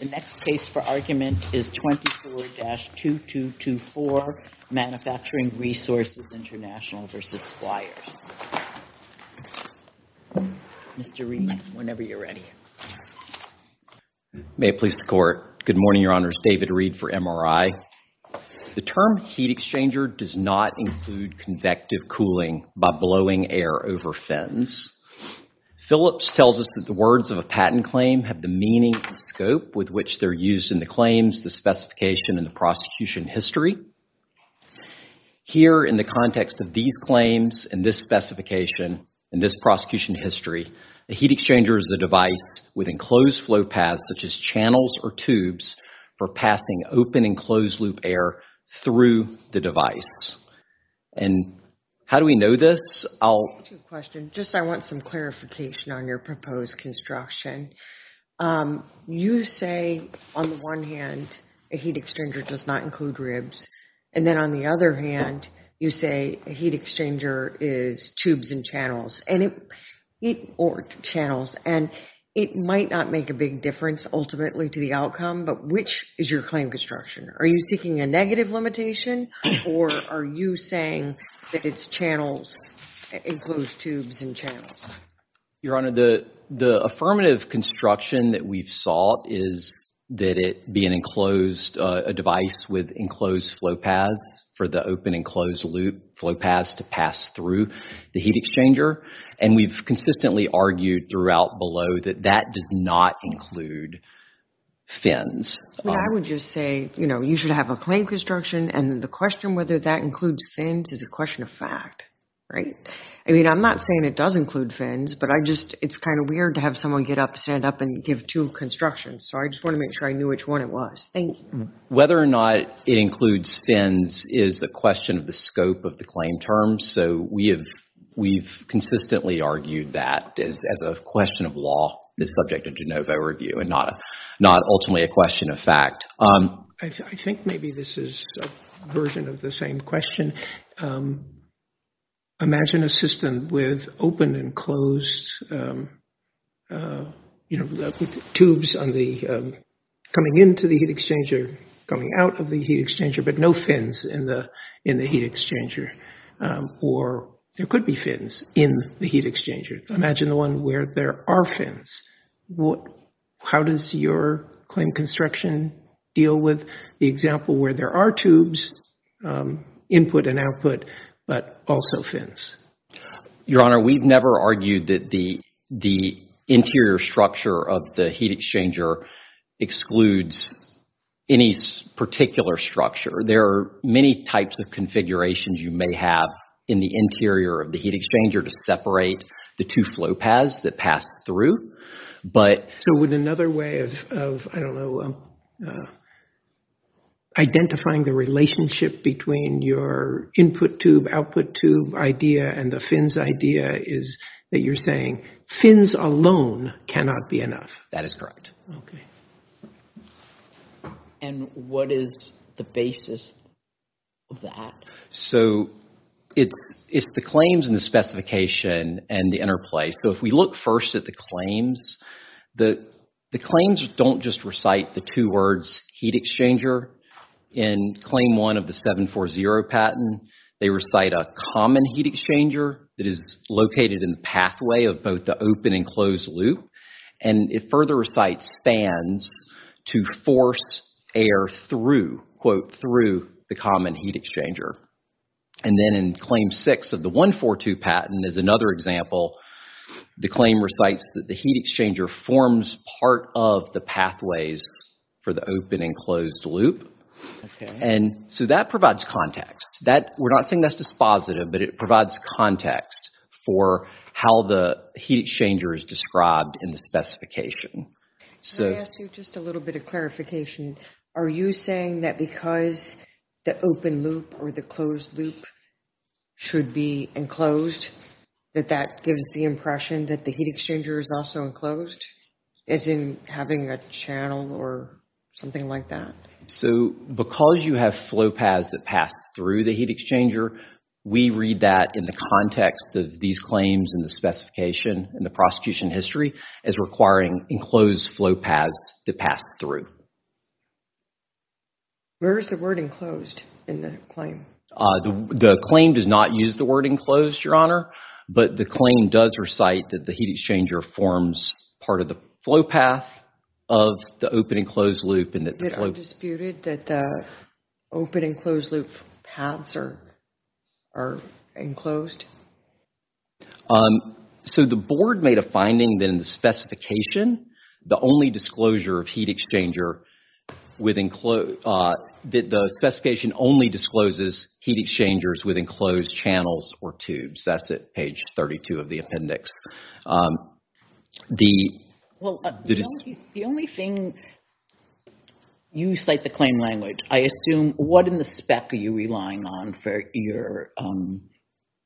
The next case for argument is 24-2224, Manufacturing Resources International v. Squires. Mr. Reed, whenever you're ready. May it please the Court. Good morning, Your Honors. David Reed for MRI. The term heat exchanger does not include convective cooling by blowing air over fins. Phillips tells us that the words of a patent claim have the meaning and scope with which they're used in the claims, the specification, and the prosecution history. Here, in the context of these claims, and this specification, and this prosecution history, a heat exchanger is a device with enclosed flow paths, such as channels or tubes, for passing open and closed-loop air through the device. And how do we know this? I'll... I have a question. Just I want some clarification on your proposed construction. You say, on the one hand, a heat exchanger does not include ribs. And then on the other hand, you say a heat exchanger is tubes and channels. And it... Heat or channels. And it might not make a big difference ultimately to the outcome, but which is your claim construction? Are you seeking a negative limitation? Or are you saying that it's channels, includes tubes and channels? Your Honor, the affirmative construction that we've sought is that it be an enclosed... a device with enclosed flow paths for the open and closed-loop flow paths to pass through the heat exchanger. And we've consistently argued throughout below that that does not include fins. Well, I would just say, you know, you should have a claim construction. And the question whether that includes fins is a question of fact, right? I mean, I'm not saying it does include fins, but I just... It's kind of weird to have someone get up, stand up and give two constructions. So, I just want to make sure I knew which one it was. Thank you. Whether or not it includes fins is a question of the scope of the claim term. So, we've consistently argued that as a question of law, the subject of de novo review and not ultimately a question of fact. I think maybe this is a version of the same question. Imagine a system with open and closed, you know, tubes coming into the heat exchanger, coming out of the heat exchanger, but no fins in the heat exchanger. Or there could be fins in the heat exchanger. Imagine the one where there are fins. How does your claim construction deal with the example where there are tubes, input and output, but also fins? Your Honor, we've never argued that the interior structure of the heat exchanger excludes any particular structure. There are many types of configurations you may have in the interior of the heat exchanger to separate the two flow paths that pass through. So, would another way of, I don't know, identifying the relationship between your input tube, output tube idea and the fins idea is that you're saying fins alone cannot be enough? That is correct. Okay. And what is the basis of that? So, it's the claims and the specification and the interplay. So, if we look first at the claims, the claims don't just recite the two words heat exchanger. In claim one of the 740 patent, they recite a common heat exchanger that is located in the pathway of both the open and closed loop. And it further recites fans to force air through, quote, through the common heat exchanger. And then in claim six of the 142 patent, as another example, the claim recites that the heat exchanger forms part of the pathways for the open and closed loop. And so, that provides context. We're not saying that's dispositive, but it provides context for how the heat exchanger is described in the specification. Let me ask you just a little bit of clarification. Are you saying that because the open loop or the closed loop should be enclosed, that that gives the impression that the heat exchanger is also enclosed, as in having a channel or something like that? So, because you have flow paths that pass through the heat exchanger, we read that in the context of these claims and the specification in the prosecution history as requiring enclosed flow paths to pass through. Where is the word enclosed in the claim? The claim does not use the word enclosed, Your Honor. But the claim does recite that the heat exchanger forms part of the flow path of the open and closed loop. It is disputed that the open and closed loop paths are enclosed? So, the board made a finding in the specification, the only disclosure of heat exchanger with enclosed, that the specification only discloses heat exchangers with enclosed channels or tubes. That's at page 32 of the appendix. The only thing, you cite the claim language. I assume, what in the spec are you relying on for your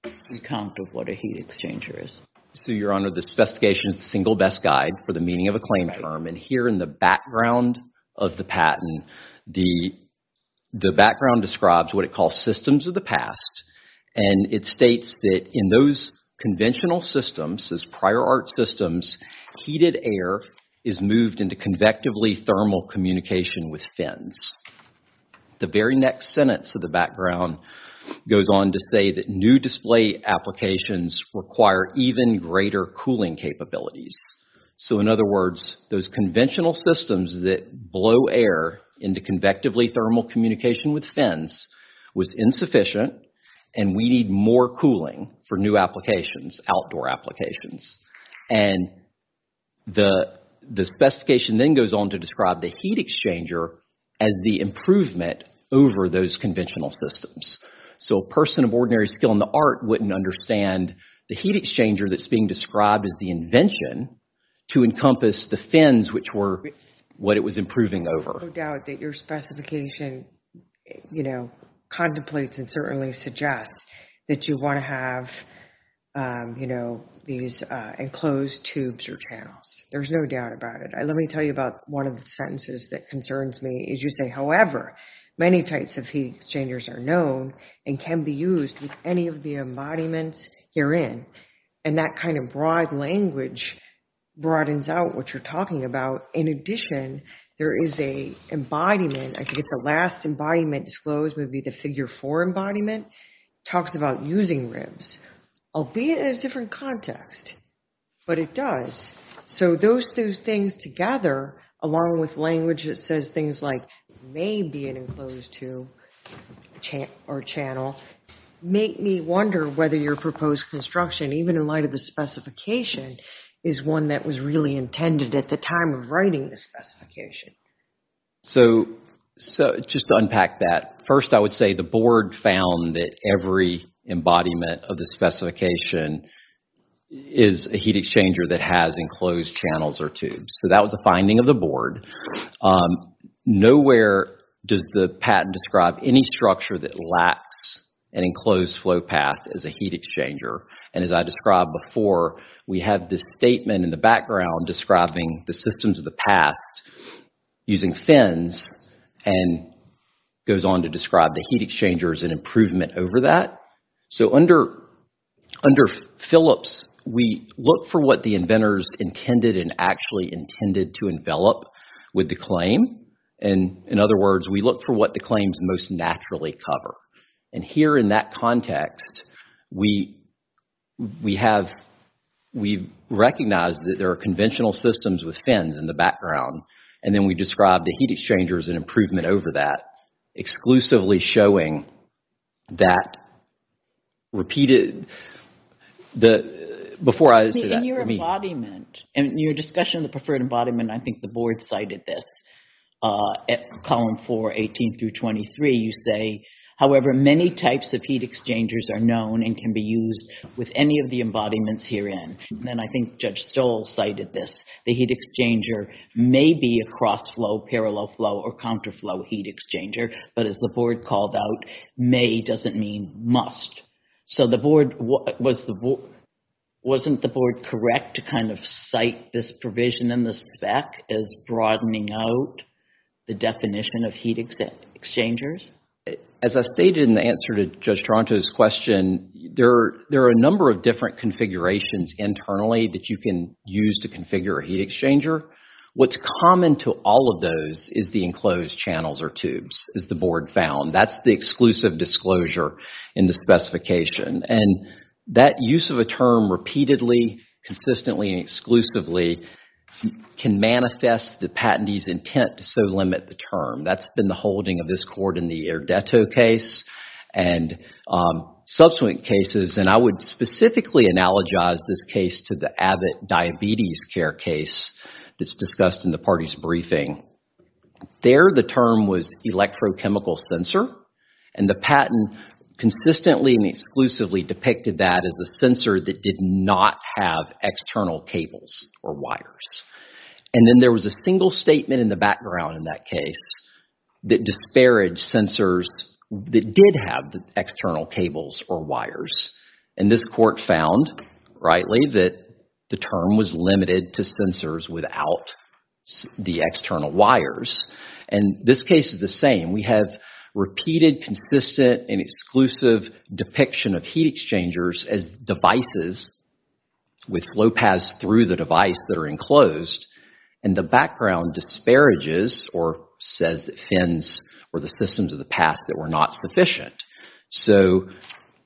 account of what a heat exchanger is? So, Your Honor, this specification is the single best guide for the meaning of a claim term. And here in the background of the patent, the background describes what it calls systems of the past. And it states that in those conventional systems, those prior art systems, heated air is moved into convectively thermal communication with fins. The very next sentence of the background goes on to say that new display applications require even greater cooling capabilities. So, in other words, those conventional systems that blow air into convectively thermal communication with fins was insufficient, and we need more cooling for new applications, outdoor applications. And the specification then goes on to describe the heat exchanger as the improvement over those conventional systems. So, a person of ordinary skill in the art wouldn't understand the heat exchanger that's being described as the invention to encompass the fins, which were what it was improving over. There's no doubt that your specification contemplates and certainly suggests that you want to have these enclosed tubes or channels. There's no doubt about it. Let me tell you about one of the sentences that concerns me. As you say, however, many types of heat exchangers are known and can be used with any of the embodiments herein. And that kind of broad language broadens out what you're talking about. In addition, there is a embodiment, I think it's a last embodiment disclosed, would be the figure four embodiment, talks about using ribs, albeit in a different context. But it does. So those things together, along with language that says things like may be an enclosed tube or channel, make me wonder whether your proposed construction, even in light of the specification, is one that was really intended at the time of writing the specification. So just to unpack that, first I would say the board found that every embodiment of the specification is a heat exchanger that has enclosed channels or tubes. So that was the finding of the board. Nowhere does the patent describe any structure that lacks an enclosed flow path as a heat exchanger. And as I described before, we have this statement in the background describing the systems of the past using fins and goes on to describe the heat exchangers and improvement over that. So under Phillips, we look for what the inventors intended and actually intended to envelop with the claim. And in other words, we look for what the claims most naturally cover. And here in that context, we recognize that there are conventional systems with fins in the background. And then we describe the heat exchangers and improvement over that, exclusively showing that repeated, before I say that, for me. In your embodiment, in your discussion of the preferred embodiment, I think the board cited this. Column 4, 18 through 23, you say, however, many types of heat exchangers are known and can be used with any of the embodiments herein. And I think Judge Stoll cited this. The heat exchanger may be a cross-flow, parallel-flow, or counter-flow heat exchanger. But as the board called out, may doesn't mean must. So wasn't the board correct to kind of cite this provision in the spec as broadening out the definition of heat exchangers? As I stated in the answer to Judge Toronto's question, there are a number of different configurations internally that you can use to configure a heat exchanger. What's common to all of those is the enclosed channels or tubes, as the board found. That's the exclusive disclosure in the specification. And that use of a term repeatedly, consistently, and exclusively can manifest the patentee's intent to so limit the term. That's been the holding of this court in the Erdeto case and subsequent cases. And I would specifically analogize this case to the Abbott diabetes care case that's discussed in the party's briefing. There, the term was electrochemical sensor. And the patent consistently and exclusively depicted that as the sensor that did not have external cables or wires. And then there was a single statement in the background in that case that disparaged sensors that did have the external cables or wires. And this court found, rightly, that the term was limited to sensors without the external wires. And this case is the same. We have repeated, consistent, and exclusive depiction of heat exchangers as devices with flow paths through the device that are enclosed. And the background disparages or says that fins were the systems of the past that were not sufficient. So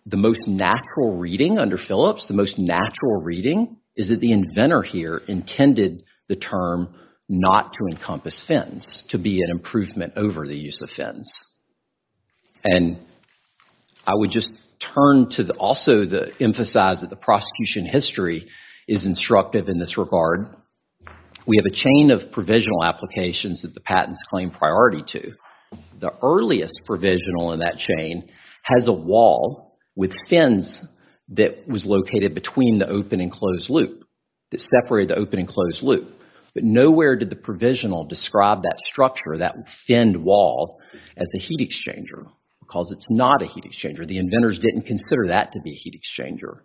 the most natural reading under Phillips, the most natural reading, is that the inventor here intended the term not to encompass fins, to be an improvement over the use of fins. And I would just turn to also emphasize that the prosecution history is instructive in this regard. We have a chain of provisional applications that the patents claim priority to. The earliest provisional in that chain has a wall with fins that was located between the open and closed loop, that separated the open and closed loop. But nowhere did the provisional describe that structure, that finned wall, as a heat exchanger, because it's not a heat exchanger. The inventors didn't consider that to be a heat exchanger.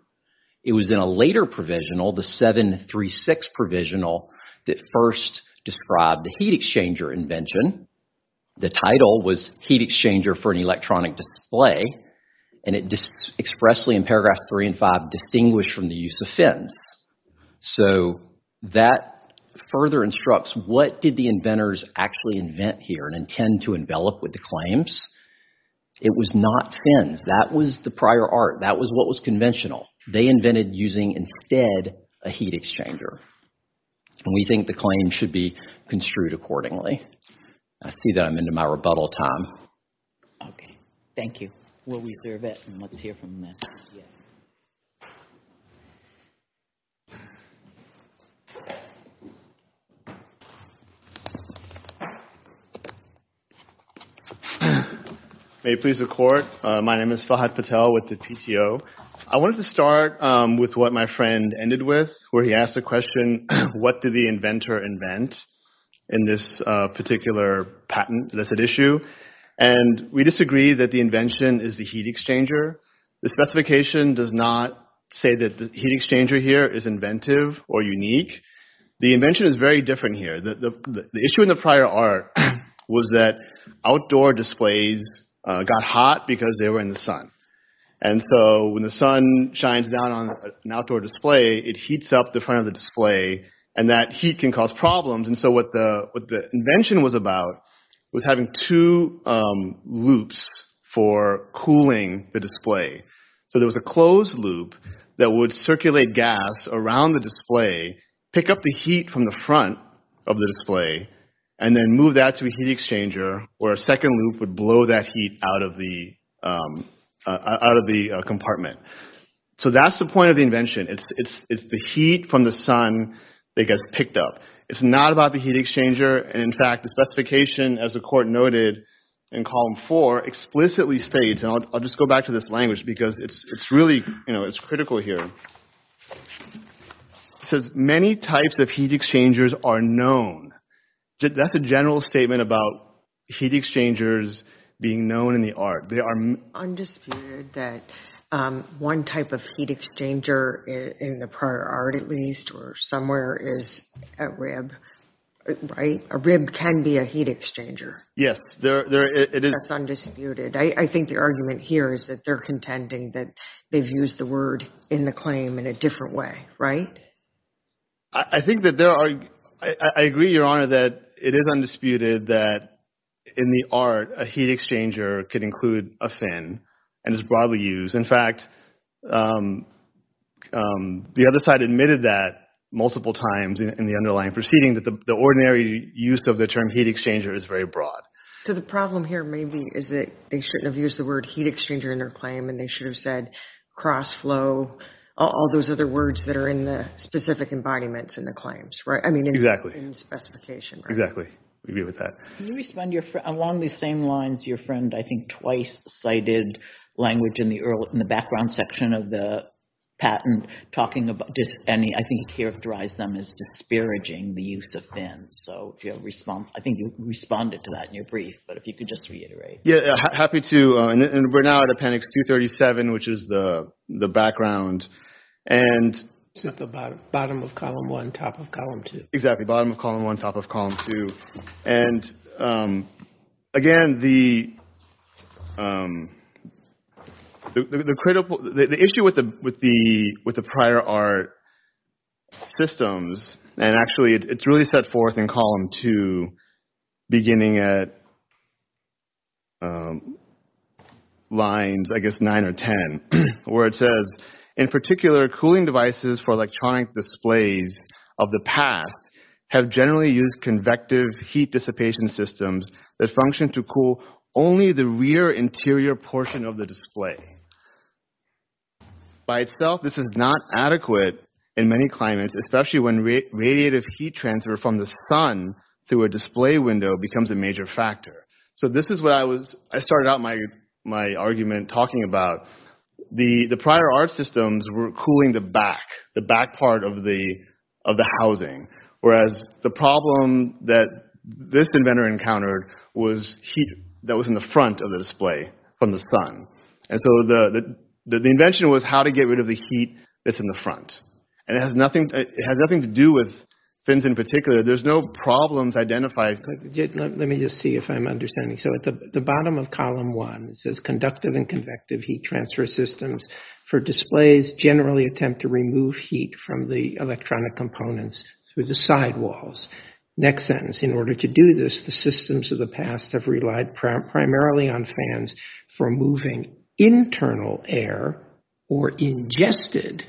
It was in a later provisional, the 736 provisional, that first described the heat exchanger invention. The title was Heat Exchanger for an Electronic Display. And it expressly, in paragraphs three and five, distinguished from the use of fins. So that further instructs, what did the inventors actually invent here and intend to envelop with the claims? It was not fins. That was the prior art. That was what was conventional. They invented using, instead, a heat exchanger. And we think the claim should be construed accordingly. I see that I'm into my rebuttal time. OK. Thank you. Will we serve it? And let's hear from them. May it please the court, my name is Fahad Patel with the PTO. I wanted to start with what my friend ended with, where he asked the question, what did the inventor invent in this particular patent that's at issue? And we disagree that the invention is the heat exchanger. The specification does not say that the heat exchanger here is inventive or unique. The invention is very different here. The issue in the prior art was that outdoor displays got hot because they were in the sun. And so when the sun shines down on an outdoor display, it heats up the front of the display. And that heat can cause problems. And so what the invention was about was having two loops for cooling the display. So there was a closed loop that would circulate gas around the display, pick up the heat from the front of the display, and then move that to a heat exchanger, where a second loop would blow that heat out of the compartment. So that's the point of the invention. It's the heat from the sun that gets picked up. It's not about the heat exchanger. And in fact, the specification, as the court noted in column 4, explicitly states, and I'll just go back to this language because it's really critical here. It says, many types of heat exchangers are known. That's a general statement about heat exchangers being known in the art. They are undisputed that one type of heat exchanger in the prior art, at least, or somewhere, is a rib, right? A rib can be a heat exchanger. Yes, it is. That's undisputed. I think the argument here is that they're contending that they've used the word in the claim in a different way, right? I think that there are, I agree, Your Honor, that it is undisputed that in the art, a heat exchanger could include a fin and is broadly used. In fact, the other side admitted that multiple times in the underlying proceeding, that the ordinary use of the term heat exchanger is very broad. So the problem here maybe is that they shouldn't have used the word heat exchanger in their claim and they should have said cross-flow, all those other words that are in the specific embodiments in the claims, right? I mean, in the fin specification, right? We agree with that. Can you respond? Along these same lines, your friend, I think, twice cited language in the background section of the patent talking about just any, I think he characterized them as disparaging the use of fins. So I think you responded to that. You're brief, but if you could just reiterate. Yeah, happy to, and we're now at appendix 237, which is the background. And this is the bottom of column one, top of column two. Exactly, bottom of column one, top of column two. And again, the issue with the prior art systems, and actually it's really set forth in column two, beginning at lines, I guess, nine or 10, where it says, in particular, cooling devices for electronic displays of the past have generally used convective heat dissipation systems that function to cool only the rear interior portion of the display. By itself, this is not adequate in many climates, especially when radiative heat transfer from the sun through a display window becomes a major factor. So this is what I started out my argument talking about. The prior art systems were cooling the back, the back part of the housing, whereas the problem that this inventor encountered was heat that was in the front of the display from the sun. And so the invention was how to get rid of the heat that's in the front. And it had nothing to do with fins in particular. There's no problems identified. Let me just see if I'm understanding. So at the bottom of column one, it says conductive and convective heat transfer systems for displays generally attempt to remove heat from the electronic components through the sidewalls. Next sentence, in order to do this, the systems of the past have relied primarily on fans for moving internal air or ingested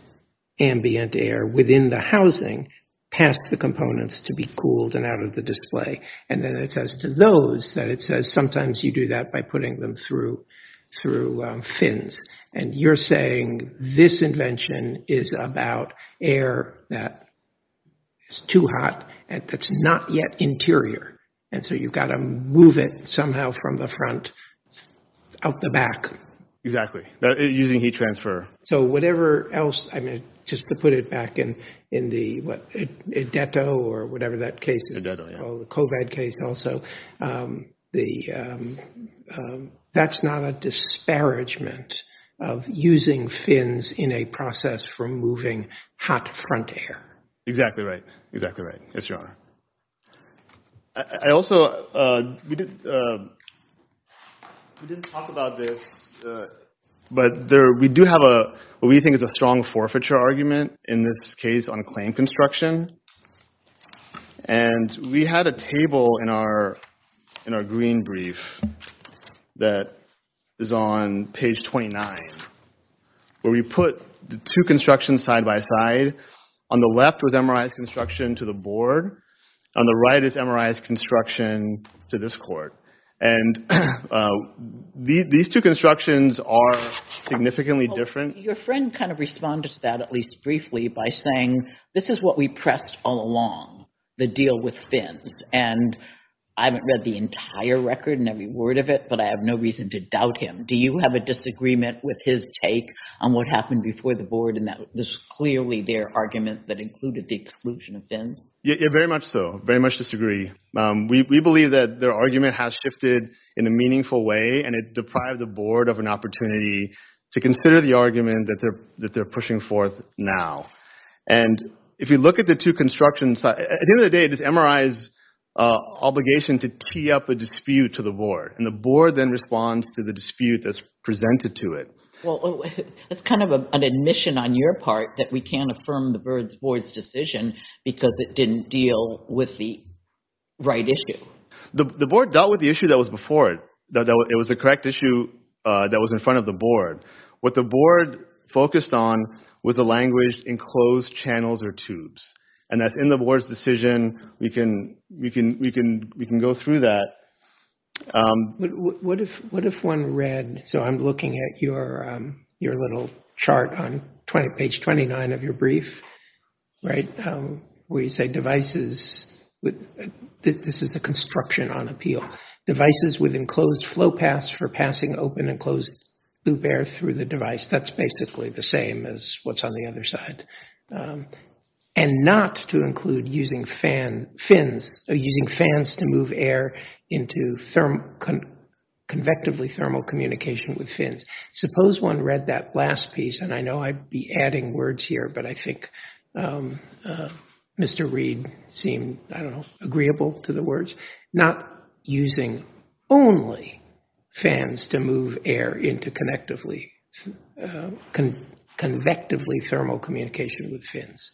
ambient air within the housing past the components to be cooled and out of the display. And then it says to those that it says sometimes you do that by putting them through fins. And you're saying this invention is about air that is too hot and that's not yet interior. And so you've got to move it somehow from the front out the back. Exactly, using heat transfer. So whatever else, I mean, just to put it back in the, what, Edetto or whatever that case is. Edetto, yeah. Oh, the COVID case also. That's not a disparagement of using fins in a process for moving hot front air. Exactly right. Exactly right. Yes, Your Honor. I also, we didn't talk about this, but we do have what we think is a strong forfeiture argument in this case on claim construction. And we had a table in our green brief that is on page 29, where we put the two constructions side by side. On the left was MRI's construction to the board. On the right is MRI's construction to this court. And these two constructions are significantly different. Your friend kind of responded to that, at least briefly, by saying, this is what we pressed all along, the deal with fins. And I haven't read the entire record and every word of it, but I have no reason to doubt him. Do you have a disagreement with his take on what happened before the board in that this is clearly their argument that included the exclusion of fins? Yeah, very much so. Very much disagree. We believe that their argument has shifted in a meaningful way, and it deprived the board of an opportunity to consider the argument that they're pushing forth now. And if you look at the two constructions, at the end of the day, it is MRI's obligation to tee up a dispute to the board. And the board then responds to the dispute that's presented to it. Well, it's kind of an admission on your part that we can't affirm the board's decision because it didn't deal with the right issue. The board dealt with the issue that was before it. It was the correct issue that was in front of the board. What the board focused on was the language enclosed channels or tubes. And that's in the board's decision. We can go through that. What if one read, so I'm looking at your little chart on page 29 of your brief, where you say devices, this is the construction on appeal, devices with enclosed flow paths for passing open and closed loop air through the device. That's basically the same as what's on the other side. And not to include using fans to move air into convectively thermal communication with fins. Suppose one read that last piece, and I know I'd be adding words here, but I think Mr. Reed seemed, I don't know, agreeable to the words. Not using only fans to move air into convectively thermal communication with fins.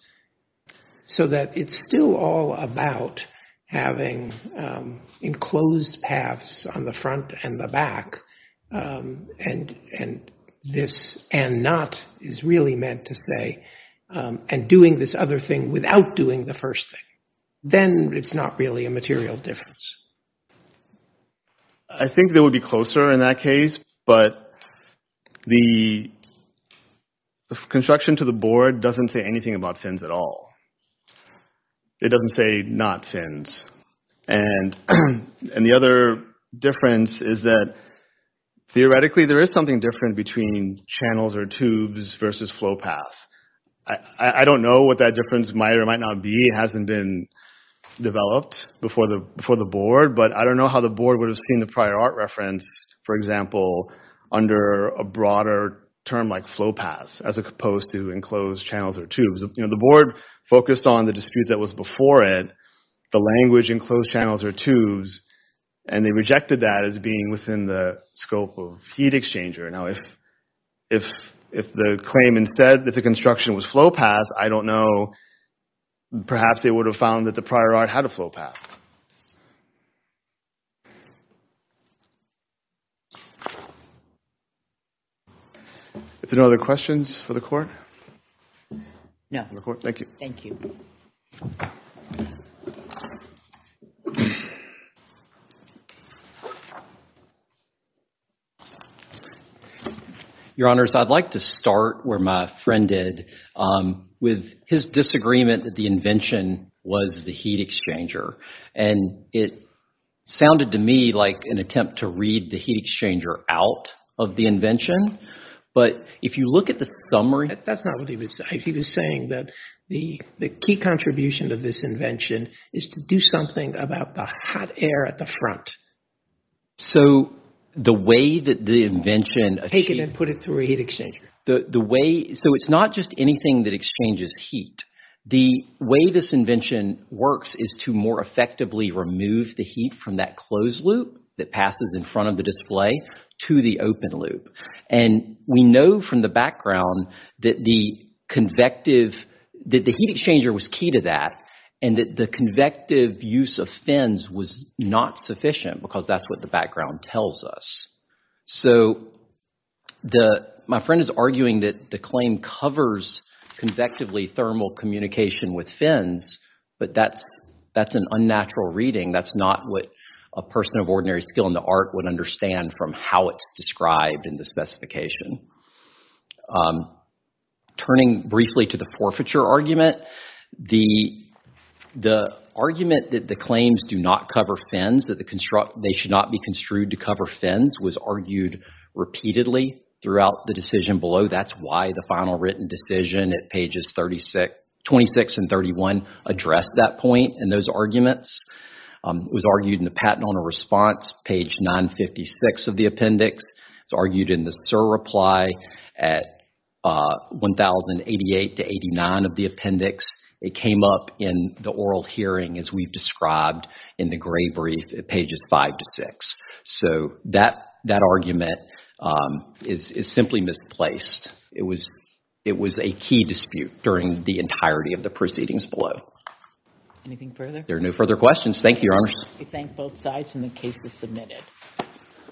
So that it's still all about having enclosed paths on the front and the back. And this and not is really meant to say and doing this other thing without doing the first thing. Then it's not really a material difference. I think they would be closer in that case, but the construction to the board doesn't say anything about fins at all. It doesn't say not fins. And the other difference is that theoretically there is something different between channels or tubes versus flow paths. I don't know what that difference might or might not be. It hasn't been developed before the board, but I don't know how the board would have seen the prior art reference, for example, under a broader term like flow paths as opposed to enclosed channels or tubes. You know, the board focused on the dispute that was before it, the language enclosed channels or tubes, and they rejected that as being within the scope of heat exchanger. Now, if the claim instead that the construction was flow paths, I don't know, perhaps they would have found that the prior art had a flow path. If there are no other questions for the court? No. Thank you. Thank you. Your Honors, I'd like to start where my friend did with his disagreement that the invention was the heat exchanger. And it sounded to me like an attempt to read the heat exchanger out of the invention. But if you look at the summary... That's not what he was saying. He was saying that the key contribution of this invention is to do something about the hot air at the front. So, the way that the invention... Take it and put it through a heat exchanger. The way... So, it's not just anything that exchanges heat. The way this invention works is to more effectively remove the heat from that closed loop that passes in front of the display to the open loop. And we know from the background that the convective... that the heat exchanger was key to that and that the convective use of fins was not sufficient because that's what the background tells us. So, my friend is arguing that the claim covers convectively thermal communication with fins, but that's an unnatural reading. That's not what a person of ordinary skill in the art would understand from how it's described in the specification. Turning briefly to the forfeiture argument, the argument that the claims do not cover fins, that they should not be construed to cover fins, was argued repeatedly throughout the decision below. That's why the final written decision at pages 26 and 31 addressed that point in those arguments. It was argued in the patent owner response, page 956 of the appendix. It's argued in the SIR reply at 1088 to 89 of the appendix. It came up in the oral hearing as we've described in the gray brief at pages 5 to 6. So, that argument is simply misplaced. It was a key dispute during the entirety of the proceedings below. Anything further? There are no further questions. Thank you, Your Honors. We thank both sides and the case is submitted.